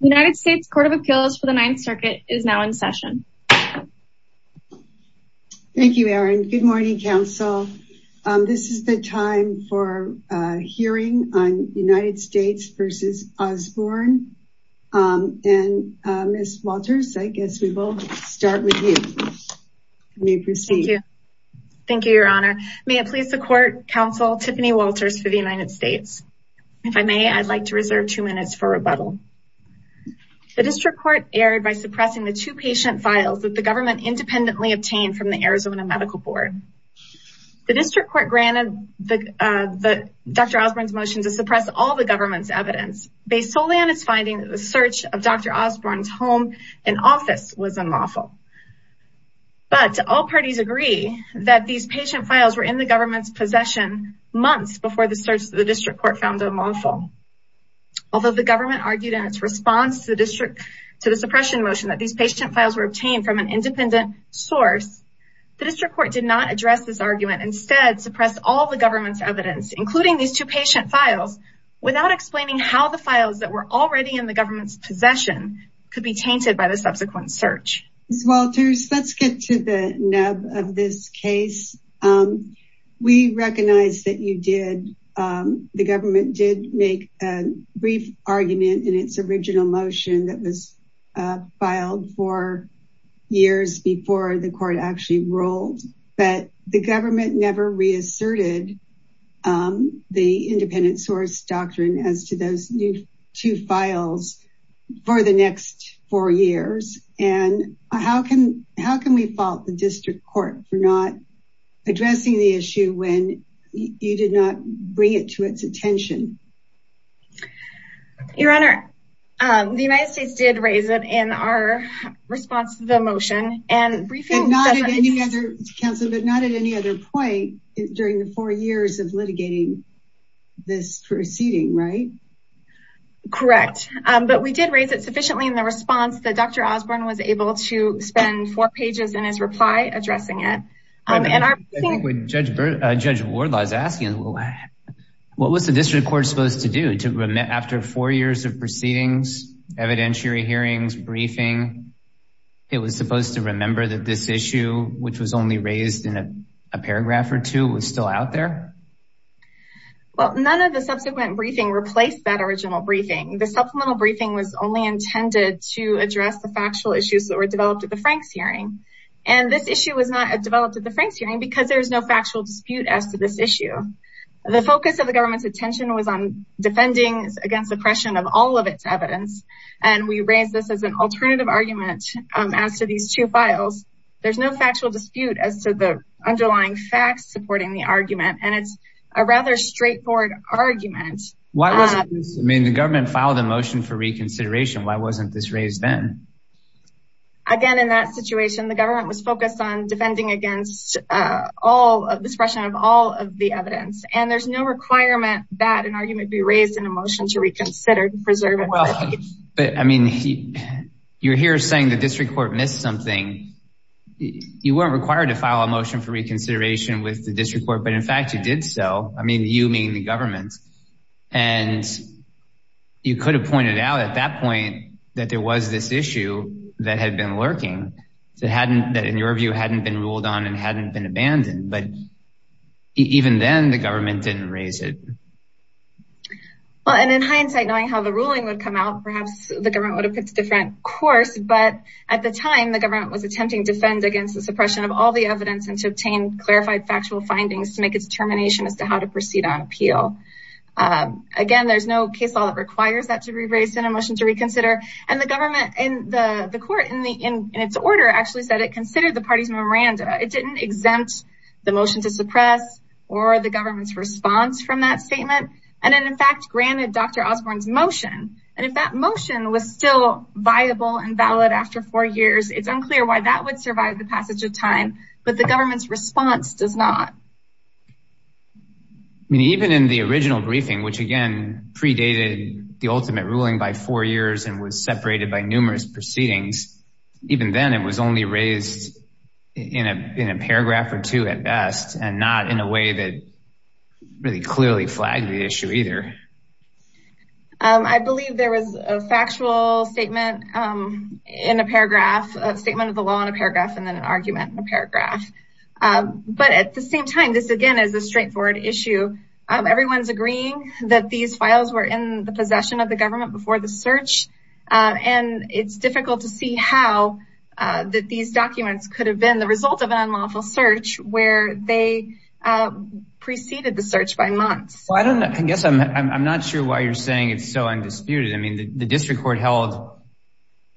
United States Court of Appeals for the Ninth Circuit is now in session. Thank you, Erin. Good morning, Council. This is the time for hearing on United States v. Osborne. And Ms. Walters, I guess we will start with you. You may proceed. Thank you, Your Honor. May it please the Court, Counsel Tiffany Walters for the United States. If I may, I'd like to reserve two minutes for rebuttal. The District Court erred by suppressing the two patient files that the government independently obtained from the Arizona Medical Board. The District Court granted Dr. Osborne's motion to suppress all the government's evidence based solely on its finding that the search of Dr. Osborne's home and office was unlawful. But all parties agree that these patient files were in the government's possession months before the search of the District Court found unlawful. Although the government argued in its response to the suppression motion that these patient files were obtained from an independent source, the District Court did not address this argument and instead suppressed all the government's evidence, including these two patient files, without explaining how the files that were already in the government's possession could be tainted by the subsequent search. Ms. Walters, let's get to the nub of this case. Um, we recognize that you did, um, the government did make a brief argument in its original motion that was filed four years before the court actually rolled, but the government never reasserted, um, the independent source doctrine as to those new two files for the next four years. And how can, how can we fault the District Court for not addressing the issue when you did not bring it to its attention? Your Honor, um, the United States did raise it in our response to the motion and not at any other council, but not at any other point during the four years of litigating this proceeding, right? Correct. Um, but we did raise it sufficiently in the response that Dr. Osborne was able to spend four pages in his reply addressing it. Um, and our... I think when Judge, uh, Judge Wardlaw is asking, what was the District Court supposed to do to, after four years of proceedings, evidentiary hearings, briefing, it was supposed to remember that this issue, which was only raised in a paragraph or two, was still out there? Well, none of the subsequent briefing replaced that original briefing. The supplemental briefing was only intended to address the factual issues that were developed at the Franks hearing. And this issue was not developed at the Franks hearing because there was no factual dispute as to this issue. The focus of the government's attention was on defending against oppression of all of its evidence. And we raised this as an alternative argument, um, as to these two files. There's no factual dispute as to the underlying facts supporting the argument. And it's a rather straightforward argument. Why wasn't this, I mean, the government filed a motion for reconsideration. Why wasn't this raised then? Again, in that situation, the government was focused on defending against, uh, all of the suppression of all of the evidence. And there's no requirement that an argument be raised in a motion to reconsider and preserve it. Well, but I mean, you're here saying the District Court missed something. You weren't required to file a motion for reconsideration with the District Court, but in fact, you did so. I mean, you mean the government. And you could have pointed out at that point that there was this issue that had been lurking, that hadn't, that in your view, hadn't been ruled on and hadn't been abandoned. But even then, the government didn't raise it. Well, and in hindsight, knowing how the ruling would come out, perhaps the government would have picked a different course. But at the time, the government was attempting to defend against the suppression of all the evidence and to obtain clarified factual findings to make its determination as to how to proceed on appeal. Again, there's no case law that requires that to be raised in a motion to reconsider. And the government in the court, in its order, actually said it considered the party's memoranda. It didn't exempt the motion to suppress or the government's response from that viable and valid after four years. It's unclear why that would survive the passage of time. But the government's response does not. I mean, even in the original briefing, which again, predated the ultimate ruling by four years and was separated by numerous proceedings. Even then, it was only raised in a paragraph or two at best and not in a way that really clearly flagged the issue either. I believe there was a factual statement in a paragraph, a statement of the law in a paragraph, and then an argument in a paragraph. But at the same time, this again is a straightforward issue. Everyone's agreeing that these files were in the possession of the government before the search. And it's difficult to see how these documents could have been the result of an unlawful search where they preceded the search by months. I guess I'm not sure why you're saying it's so undisputed. I mean, the district court held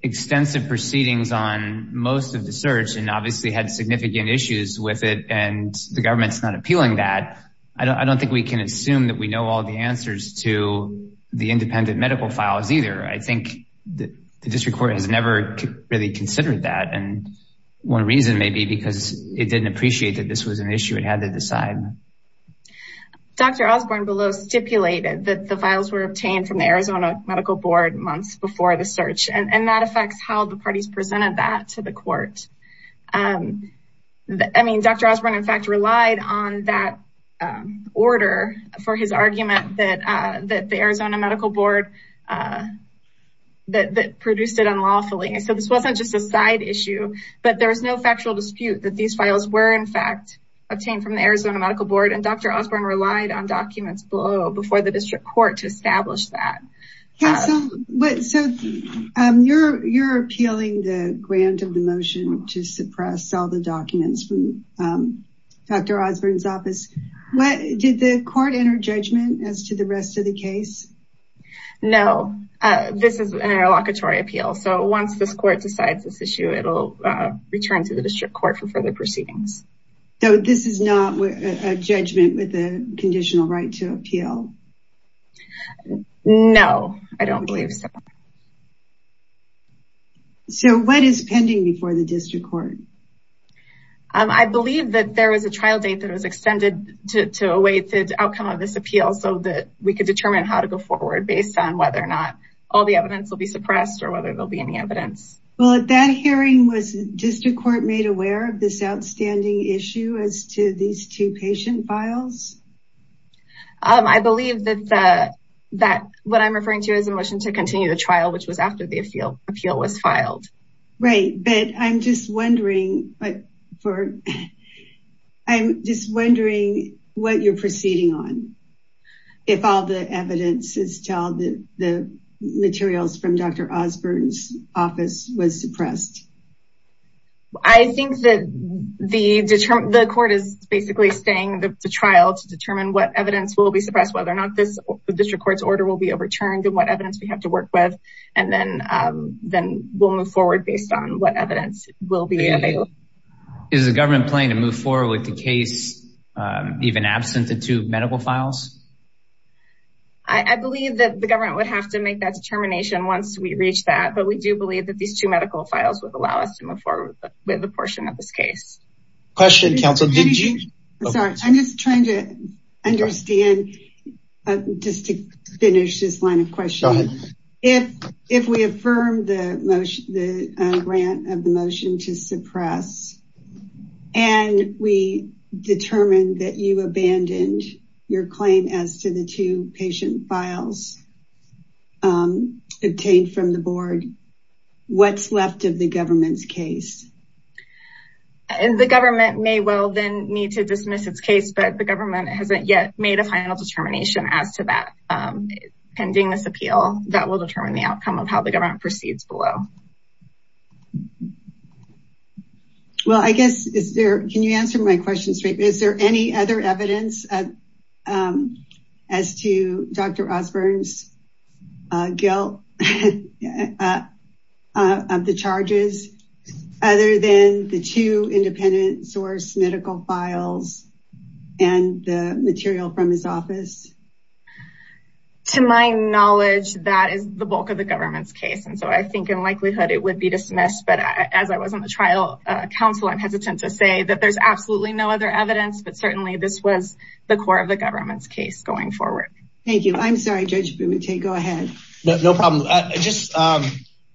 extensive proceedings on most of the search and obviously had significant issues with it. And the government's not appealing that. I don't think we can assume that we know all the answers to the independent medical files either. I think the district court has never really considered that. And one reason may be because it didn't appreciate that this was an issue it had to decide. Dr. Osborne below stipulated that the files were obtained from the Arizona Medical Board months before the search. And that affects how the parties presented that to the court. I mean, Dr. Osborne, in fact, relied on that order for his argument that the Arizona Medical Board produced it unlawfully. So this wasn't just a side issue, but there was no medical board and Dr. Osborne relied on documents below before the district court to establish that. So you're appealing the grant of the motion to suppress all the documents from Dr. Osborne's office. Did the court enter judgment as to the rest of the case? No, this is an interlocutory appeal. So once this court decides this issue, it'll return to the district court for further proceedings. So this is not a judgment with a conditional right to appeal? No, I don't believe so. So what is pending before the district court? I believe that there is a trial date that was extended to await the outcome of this appeal so that we could determine how to go forward based on whether or not all the evidence will be suppressed or whether there'll be any evidence. Well, at that hearing, was district court made aware of this outstanding issue as to these two patient files? I believe that what I'm referring to is a motion to continue the trial which was after the appeal was filed. Right, but I'm just wondering what you're proceeding on if all the evidence is told that the materials from Dr. Osborne's office was suppressed? I think that the court is basically staying the trial to determine what evidence will be suppressed, whether or not this district court's order will be overturned, and what evidence we have to work with, and then we'll move forward based on what evidence will be available. Is the government planning to move forward with the case even absent the two medical files? I believe that the government would have to make that determination once we reach that, but we do believe that these two medical files would allow us to move forward with the portion of this case. I'm just trying to understand, just to finish this line of questioning, if we affirm the motion, the grant of the motion to suppress, and we determine that you abandoned your claim as to the two patient files obtained from the board, what's left of the government's case? The government may well then need to dismiss its case, but the government hasn't yet made a final determination as to that. Pending this appeal, that will determine the outcome of how the government proceeds below. Can you answer my question straight? Is there any other evidence as to Dr. Osborne's guilt of the charges other than the two independent source medical files and the material from his office? To my knowledge, that is the bulk of the government's case, and so I think in likelihood it would be dismissed, but as I was on the trial counsel, I'm hesitant to say that there's absolutely no other evidence, but certainly this was the core of the government's case going forward. Thank you. I'm sorry, Judge Boutte, go ahead. No problem.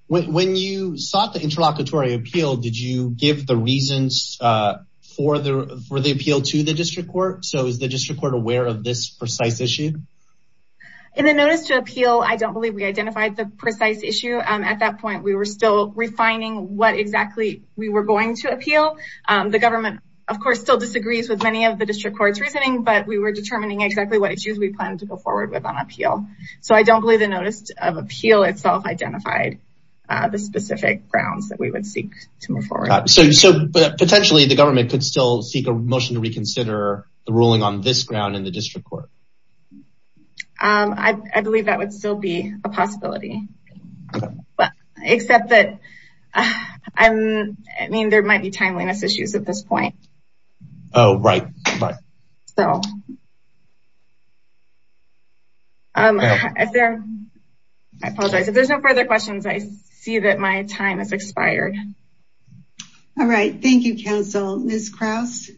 When you sought the interlocutory appeal, did you give the reasons for the appeal to the district court? So is the district court aware of this precise issue? In the notice to appeal, I don't believe we identified the precise issue. At that point, we were still refining what exactly we were going to appeal. The government, of course, still disagrees with many of the district court's reasoning, but we were determining exactly what issues we planned to go forward with on appeal. So I don't believe the notice of appeal itself identified the specific grounds that we would seek to move forward. So potentially, the government could still seek a motion to reconsider the ruling on this ground in the district court? I believe that would still be a possibility, except that, I mean, there might be timeliness issues at this point. Oh, right. I apologize. If there's no further questions, I see that my time has expired. All right. Thank you, counsel. Ms. Krause?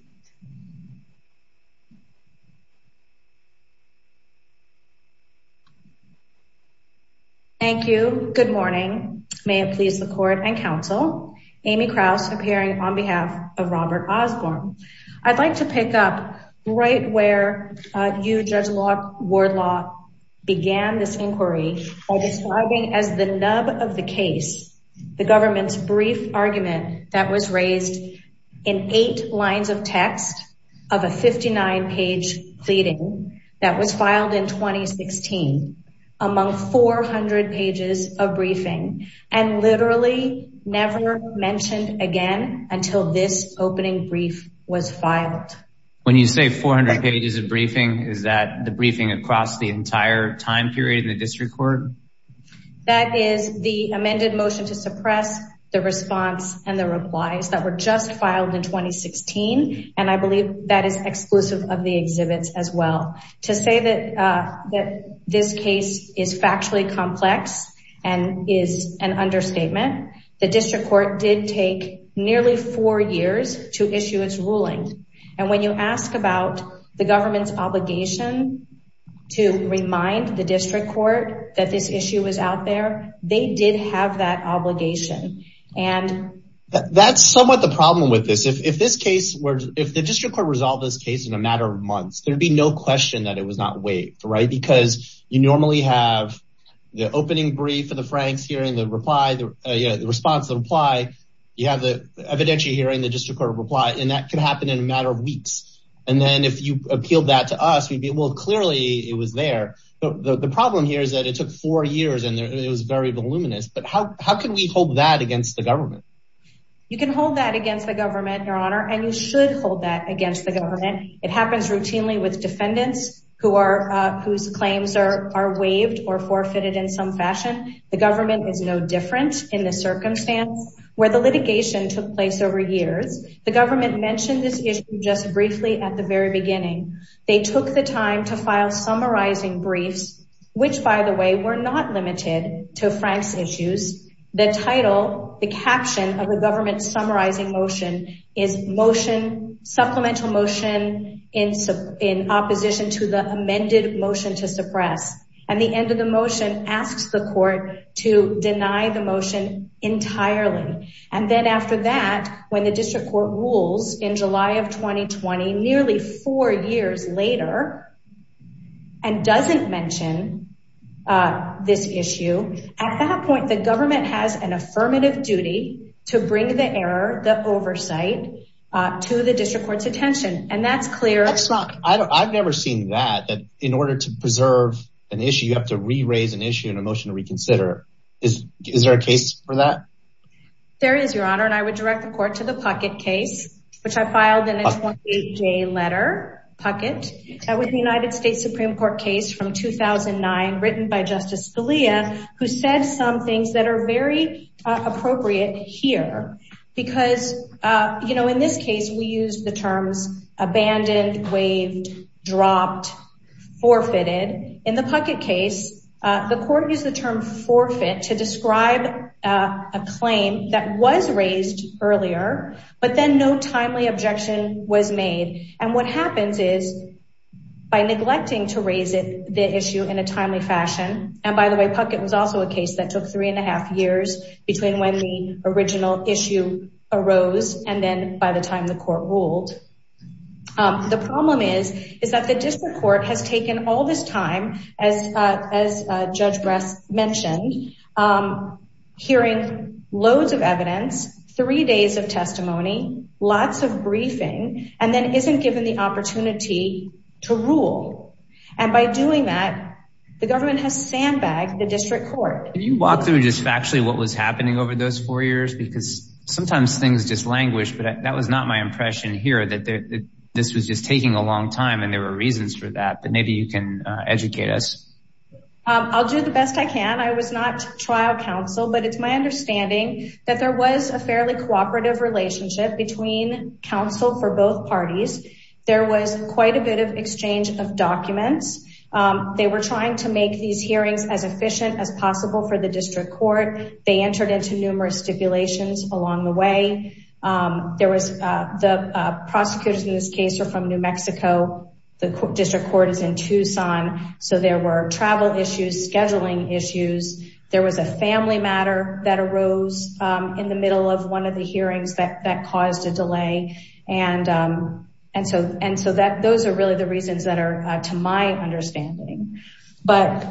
Thank you. Good morning. May it please the court and counsel. Amy Krause, appearing on behalf of Robert Osborne. I'd like to pick up right where you, Judge Wardlaw, began this inquiry by describing as the nub of the case, the government's brief argument that was raised in eight lines of text of a 59-page pleading that was filed in 2016 among 400 pages of briefing and literally never mentioned again until this opening brief was filed. When you say 400 pages of briefing, is that the briefing across the entire time period in the district court? That is the amended motion to suppress the response and the replies that were just filed in 2016, and I believe that is exclusive of the exhibits as well. To say that this case is factually complex and is an understatement, the district court did take nearly four years to issue its ruling, and when you ask about the government's obligation to remind the district court that this issue was out there, they did have that obligation. That's somewhat the problem with this. If the district court resolved this case in a matter of months, there'd be no question that it was not waived, right? Because you normally have the opening brief and the Franks hearing the response, the reply, you have the evidentiary hearing, the district court reply, and that could happen in a matter of weeks. And then if you appealed that to us, we'd be, well, clearly it was there. The problem here is that it took four years and it was very voluminous, but how can we hold that against the government? You can hold that against the government, your honor, and you should hold that against the government. It happens routinely with defendants whose claims are waived or forfeited in some fashion. The government is no different in the circumstance where the litigation took place over years. The government mentioned this issue just briefly at the very beginning. They took the time to file summarizing briefs, which, by the way, were not limited to Franks issues. The title, the caption of the government's summarizing motion is motion, supplemental motion in opposition to the amended motion to suppress. And the end of the motion asks the court to deny the motion entirely. And then after that, when the district court rules in July of 2020, nearly four years later, and doesn't mention this issue, at that to the district court's attention. And that's clear. I've never seen that, that in order to preserve an issue, you have to re-raise an issue in a motion to reconsider. Is there a case for that? There is, your honor. And I would direct the court to the Puckett case, which I filed in a 28 day letter, Puckett. That was the United States Supreme Court case from 2009 written by Justice Scalia, who said some things that are very appropriate here. Because, you know, in this case, we use the terms abandoned, waived, dropped, forfeited. In the Puckett case, the court used the term forfeit to describe a claim that was raised earlier, but then no timely objection was made. And what happens is by neglecting to raise it, the issue in a timely fashion. And by the way, Puckett was also a case that took three and a half years between when the original issue arose and then by the time the court ruled. The problem is, is that the district court has taken all this time, as Judge Brass mentioned, hearing loads of evidence, three days of testimony, lots of briefing, and then isn't given the opportunity to rule. And by doing that, the government has sandbagged the district court. Can you walk through just factually what was happening over those four years? Because sometimes things just languish, but that was not my impression here that this was just taking a long time and there were reasons for that. But maybe you can educate us. I'll do the best I can. I was not trial counsel, but it's my understanding that there was a fairly cooperative relationship between counsel for both parties. There was quite a bit of exchange of documents. They were trying to make these hearings as efficient as possible for the district court. They entered into numerous stipulations along the way. The prosecutors in this case are from New Mexico. The district court is in Tucson. So there were travel issues, scheduling issues. There was a family matter that arose in the middle of one of the hearings that caused a delay. And so those are really the reasons that are to my understanding. But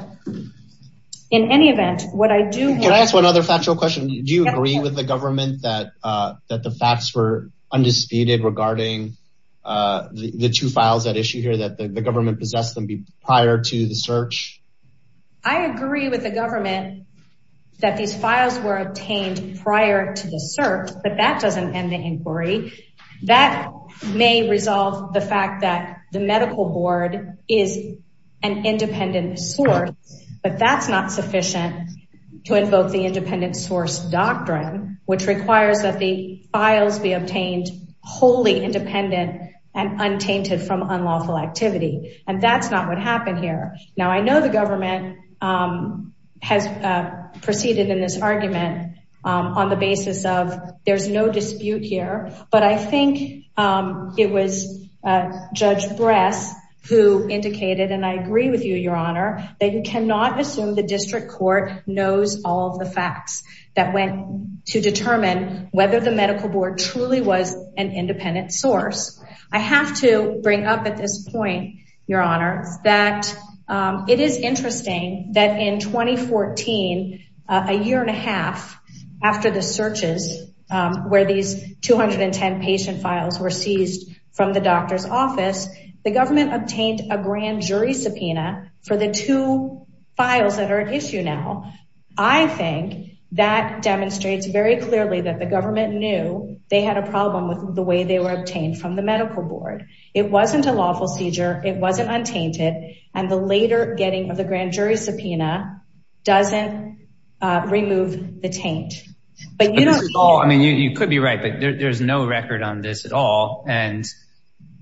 in any event, what I do... Can I ask one other factual question? Do you agree with the government that the facts were undisputed regarding the two files that issue here that the government possessed them prior to the search? I agree with the government that these files were obtained prior to the search, but that doesn't end the inquiry. That may resolve the fact that the medical board is an independent source, but that's not sufficient to invoke the independent source doctrine, which requires that the files be obtained wholly independent and untainted from unlawful activity. And that's not what happened here. Now, I know the government has proceeded in this argument on the basis of there's no dispute here, but I think it was Judge Bress who indicated, and I agree with you, your honor, that you cannot assume the district court knows all of the facts that went to determine whether the medical board truly was an independent source. I have to bring up at this point, your honor, that it is interesting that in 2014, a year and a half after the searches where these 210 patient files were seized from the doctor's office, the government obtained a grand jury subpoena for the two files that are at issue now. I think that demonstrates very clearly that the government knew they had a problem with the way they were handling the medical board. It wasn't a lawful seizure, it wasn't untainted, and the later getting of the grand jury subpoena doesn't remove the taint. You could be right, but there's no record on this at all, and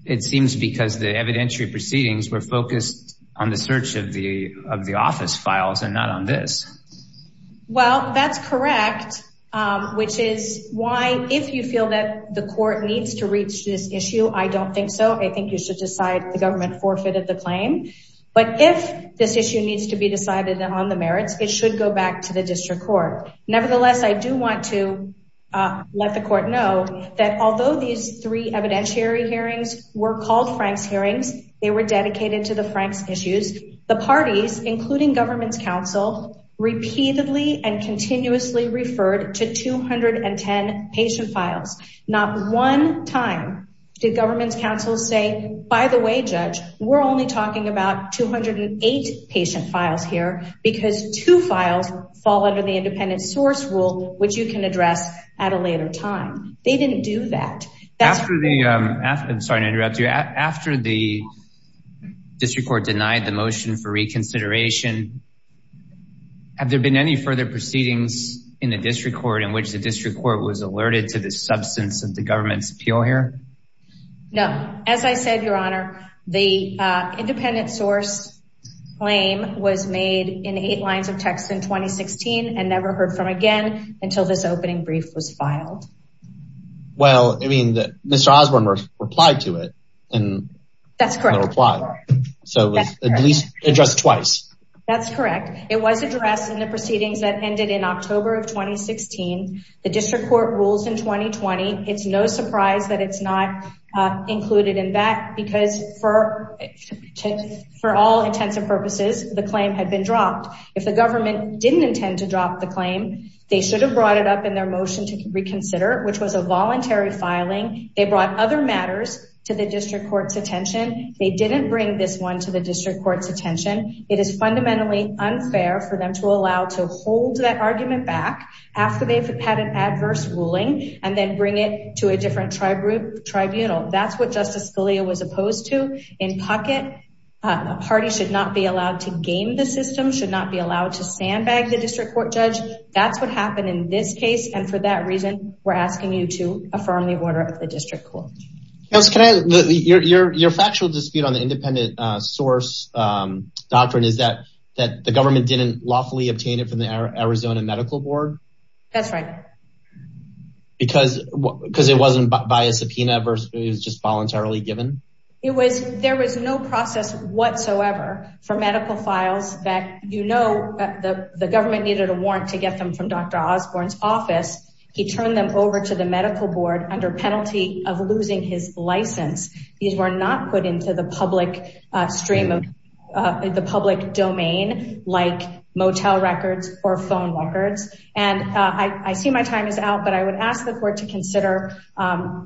it seems because the evidentiary proceedings were focused on the search of the office files and not on this. Well, that's correct, which is why if you feel that the court needs to reach this issue, I don't think so. I think you should decide the government forfeited the claim, but if this issue needs to be decided on the merits, it should go back to the district court. Nevertheless, I do want to let the court know that although these three evidentiary hearings were called Frank's hearings, they were dedicated to the Frank's issues. The parties, including the district court, denied the motion for reconsideration. Have there been any further proceedings in the district court in which the district court was alerted to the substance of the government's appeal here? No. As I said, your honor, the independent source claim was made in eight lines of text in 2016 and never heard from again until this opening brief was filed. Well, I mean, Mr. Osborne replied to it. That's correct. So it was at least addressed twice. That's correct. It was addressed in the proceedings that ended in October of 2016. The district court rules in 2020. It's no surprise that it's not included in that because for all intents and purposes, the claim had been dropped. If the government didn't intend to drop the claim, they should have brought it up in their motion to reconsider, which was a voluntary filing. They brought other matters to the district court's attention. They didn't bring this one to the district court's attention. It is fundamentally unfair for them to allow to hold that argument back after they've had an adverse ruling, and then bring it to a different tribunal. That's what Justice Scalia was opposed to. In pocket, a party should not be allowed to game the system, should not be allowed to sandbag the district court judge. That's what happened in this case. And for that reason, we're asking you to affirm the order of the district court. Your factual dispute on the independent source doctrine is that the government didn't lawfully obtain it from the Arizona Medical Board? That's right. Because it wasn't by a subpoena, it was just voluntarily given? There was no process whatsoever for medical files that you know the government needed a warrant to get them from Dr. Osborne's office. He turned them over to the Medical Board under penalty of losing his license. These were not put into the public stream of the public domain, like motel records or phone records. And I see my time is out, but I would ask the court to consider,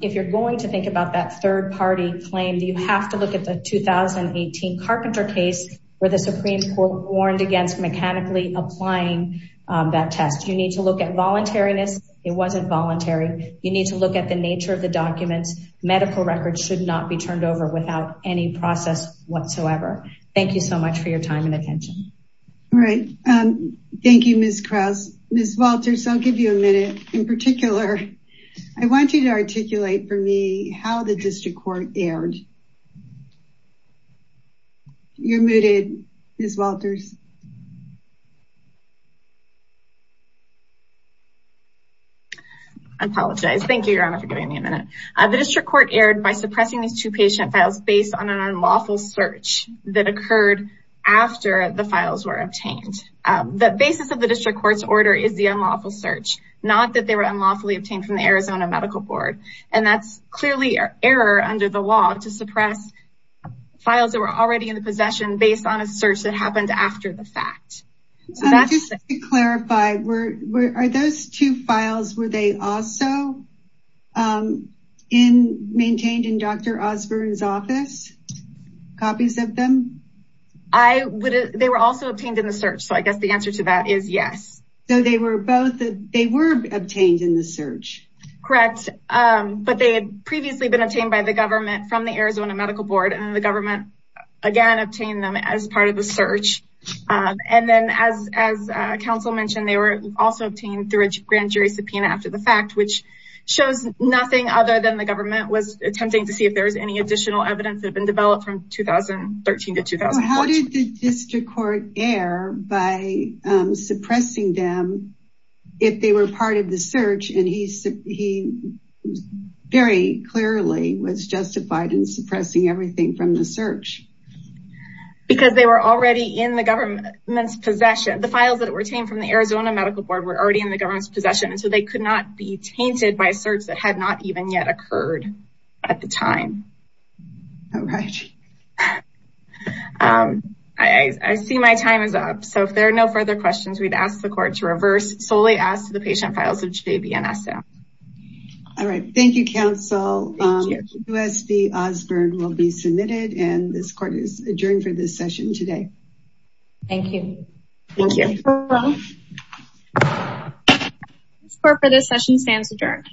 if you're going to think about that third party claim, you have to look at the 2018 Carpenter case where the Supreme Court warned against mechanically applying that test. You need to look at voluntariness. It wasn't voluntary. You need to look at the nature of the documents. Medical records should not be turned over without any process whatsoever. Thank you so much for your time and attention. All right. Thank you, Ms. Krause. Ms. Walters, I'll give you a minute. In particular, I want you to articulate for me how the district court erred. You're muted, Ms. Walters. I apologize. Thank you, Your Honor, for giving me a minute. The district court erred by suppressing these two patient files based on an unlawful search that occurred after the files were obtained. The basis of the district court's order is the unlawful search, not that they were unlawfully obtained from the Arizona Medical Board. And that's clearly error under the law to suppress files that were already in the possession based on a search that happened after the fact. Just to clarify, are those two files, were they also maintained in Dr. Osborne's office? Copies of them? They were also obtained in the search, so I guess the answer to that is yes. So they were obtained in the search? Correct, but they had previously been obtained by the government from the Arizona Medical Board, and the government again obtained them as part of the search. And then as counsel mentioned, they were also obtained through a grand jury subpoena after the fact, which shows nothing other than the government was attempting to see if there was any additional evidence that had been developed from 2013 to 2014. How did the district court err by suppressing them if they were part of the search and he very clearly was justified in suppressing everything from the search? Because they were already in the government's possession. The files that were obtained from the Arizona Medical Board were already in the government's possession, so they could not be tainted by a search that had not even yet occurred at the time. All right. I see my time is up. So if there are no further questions, we'd ask the court to reverse. Solely ask the patient files of JBNSO. All right. Thank you, counsel. Thank you. U.S.B. Osborne will be submitted, and this court is adjourned for this session today. Thank you. Thank you. This court for this session stands adjourned.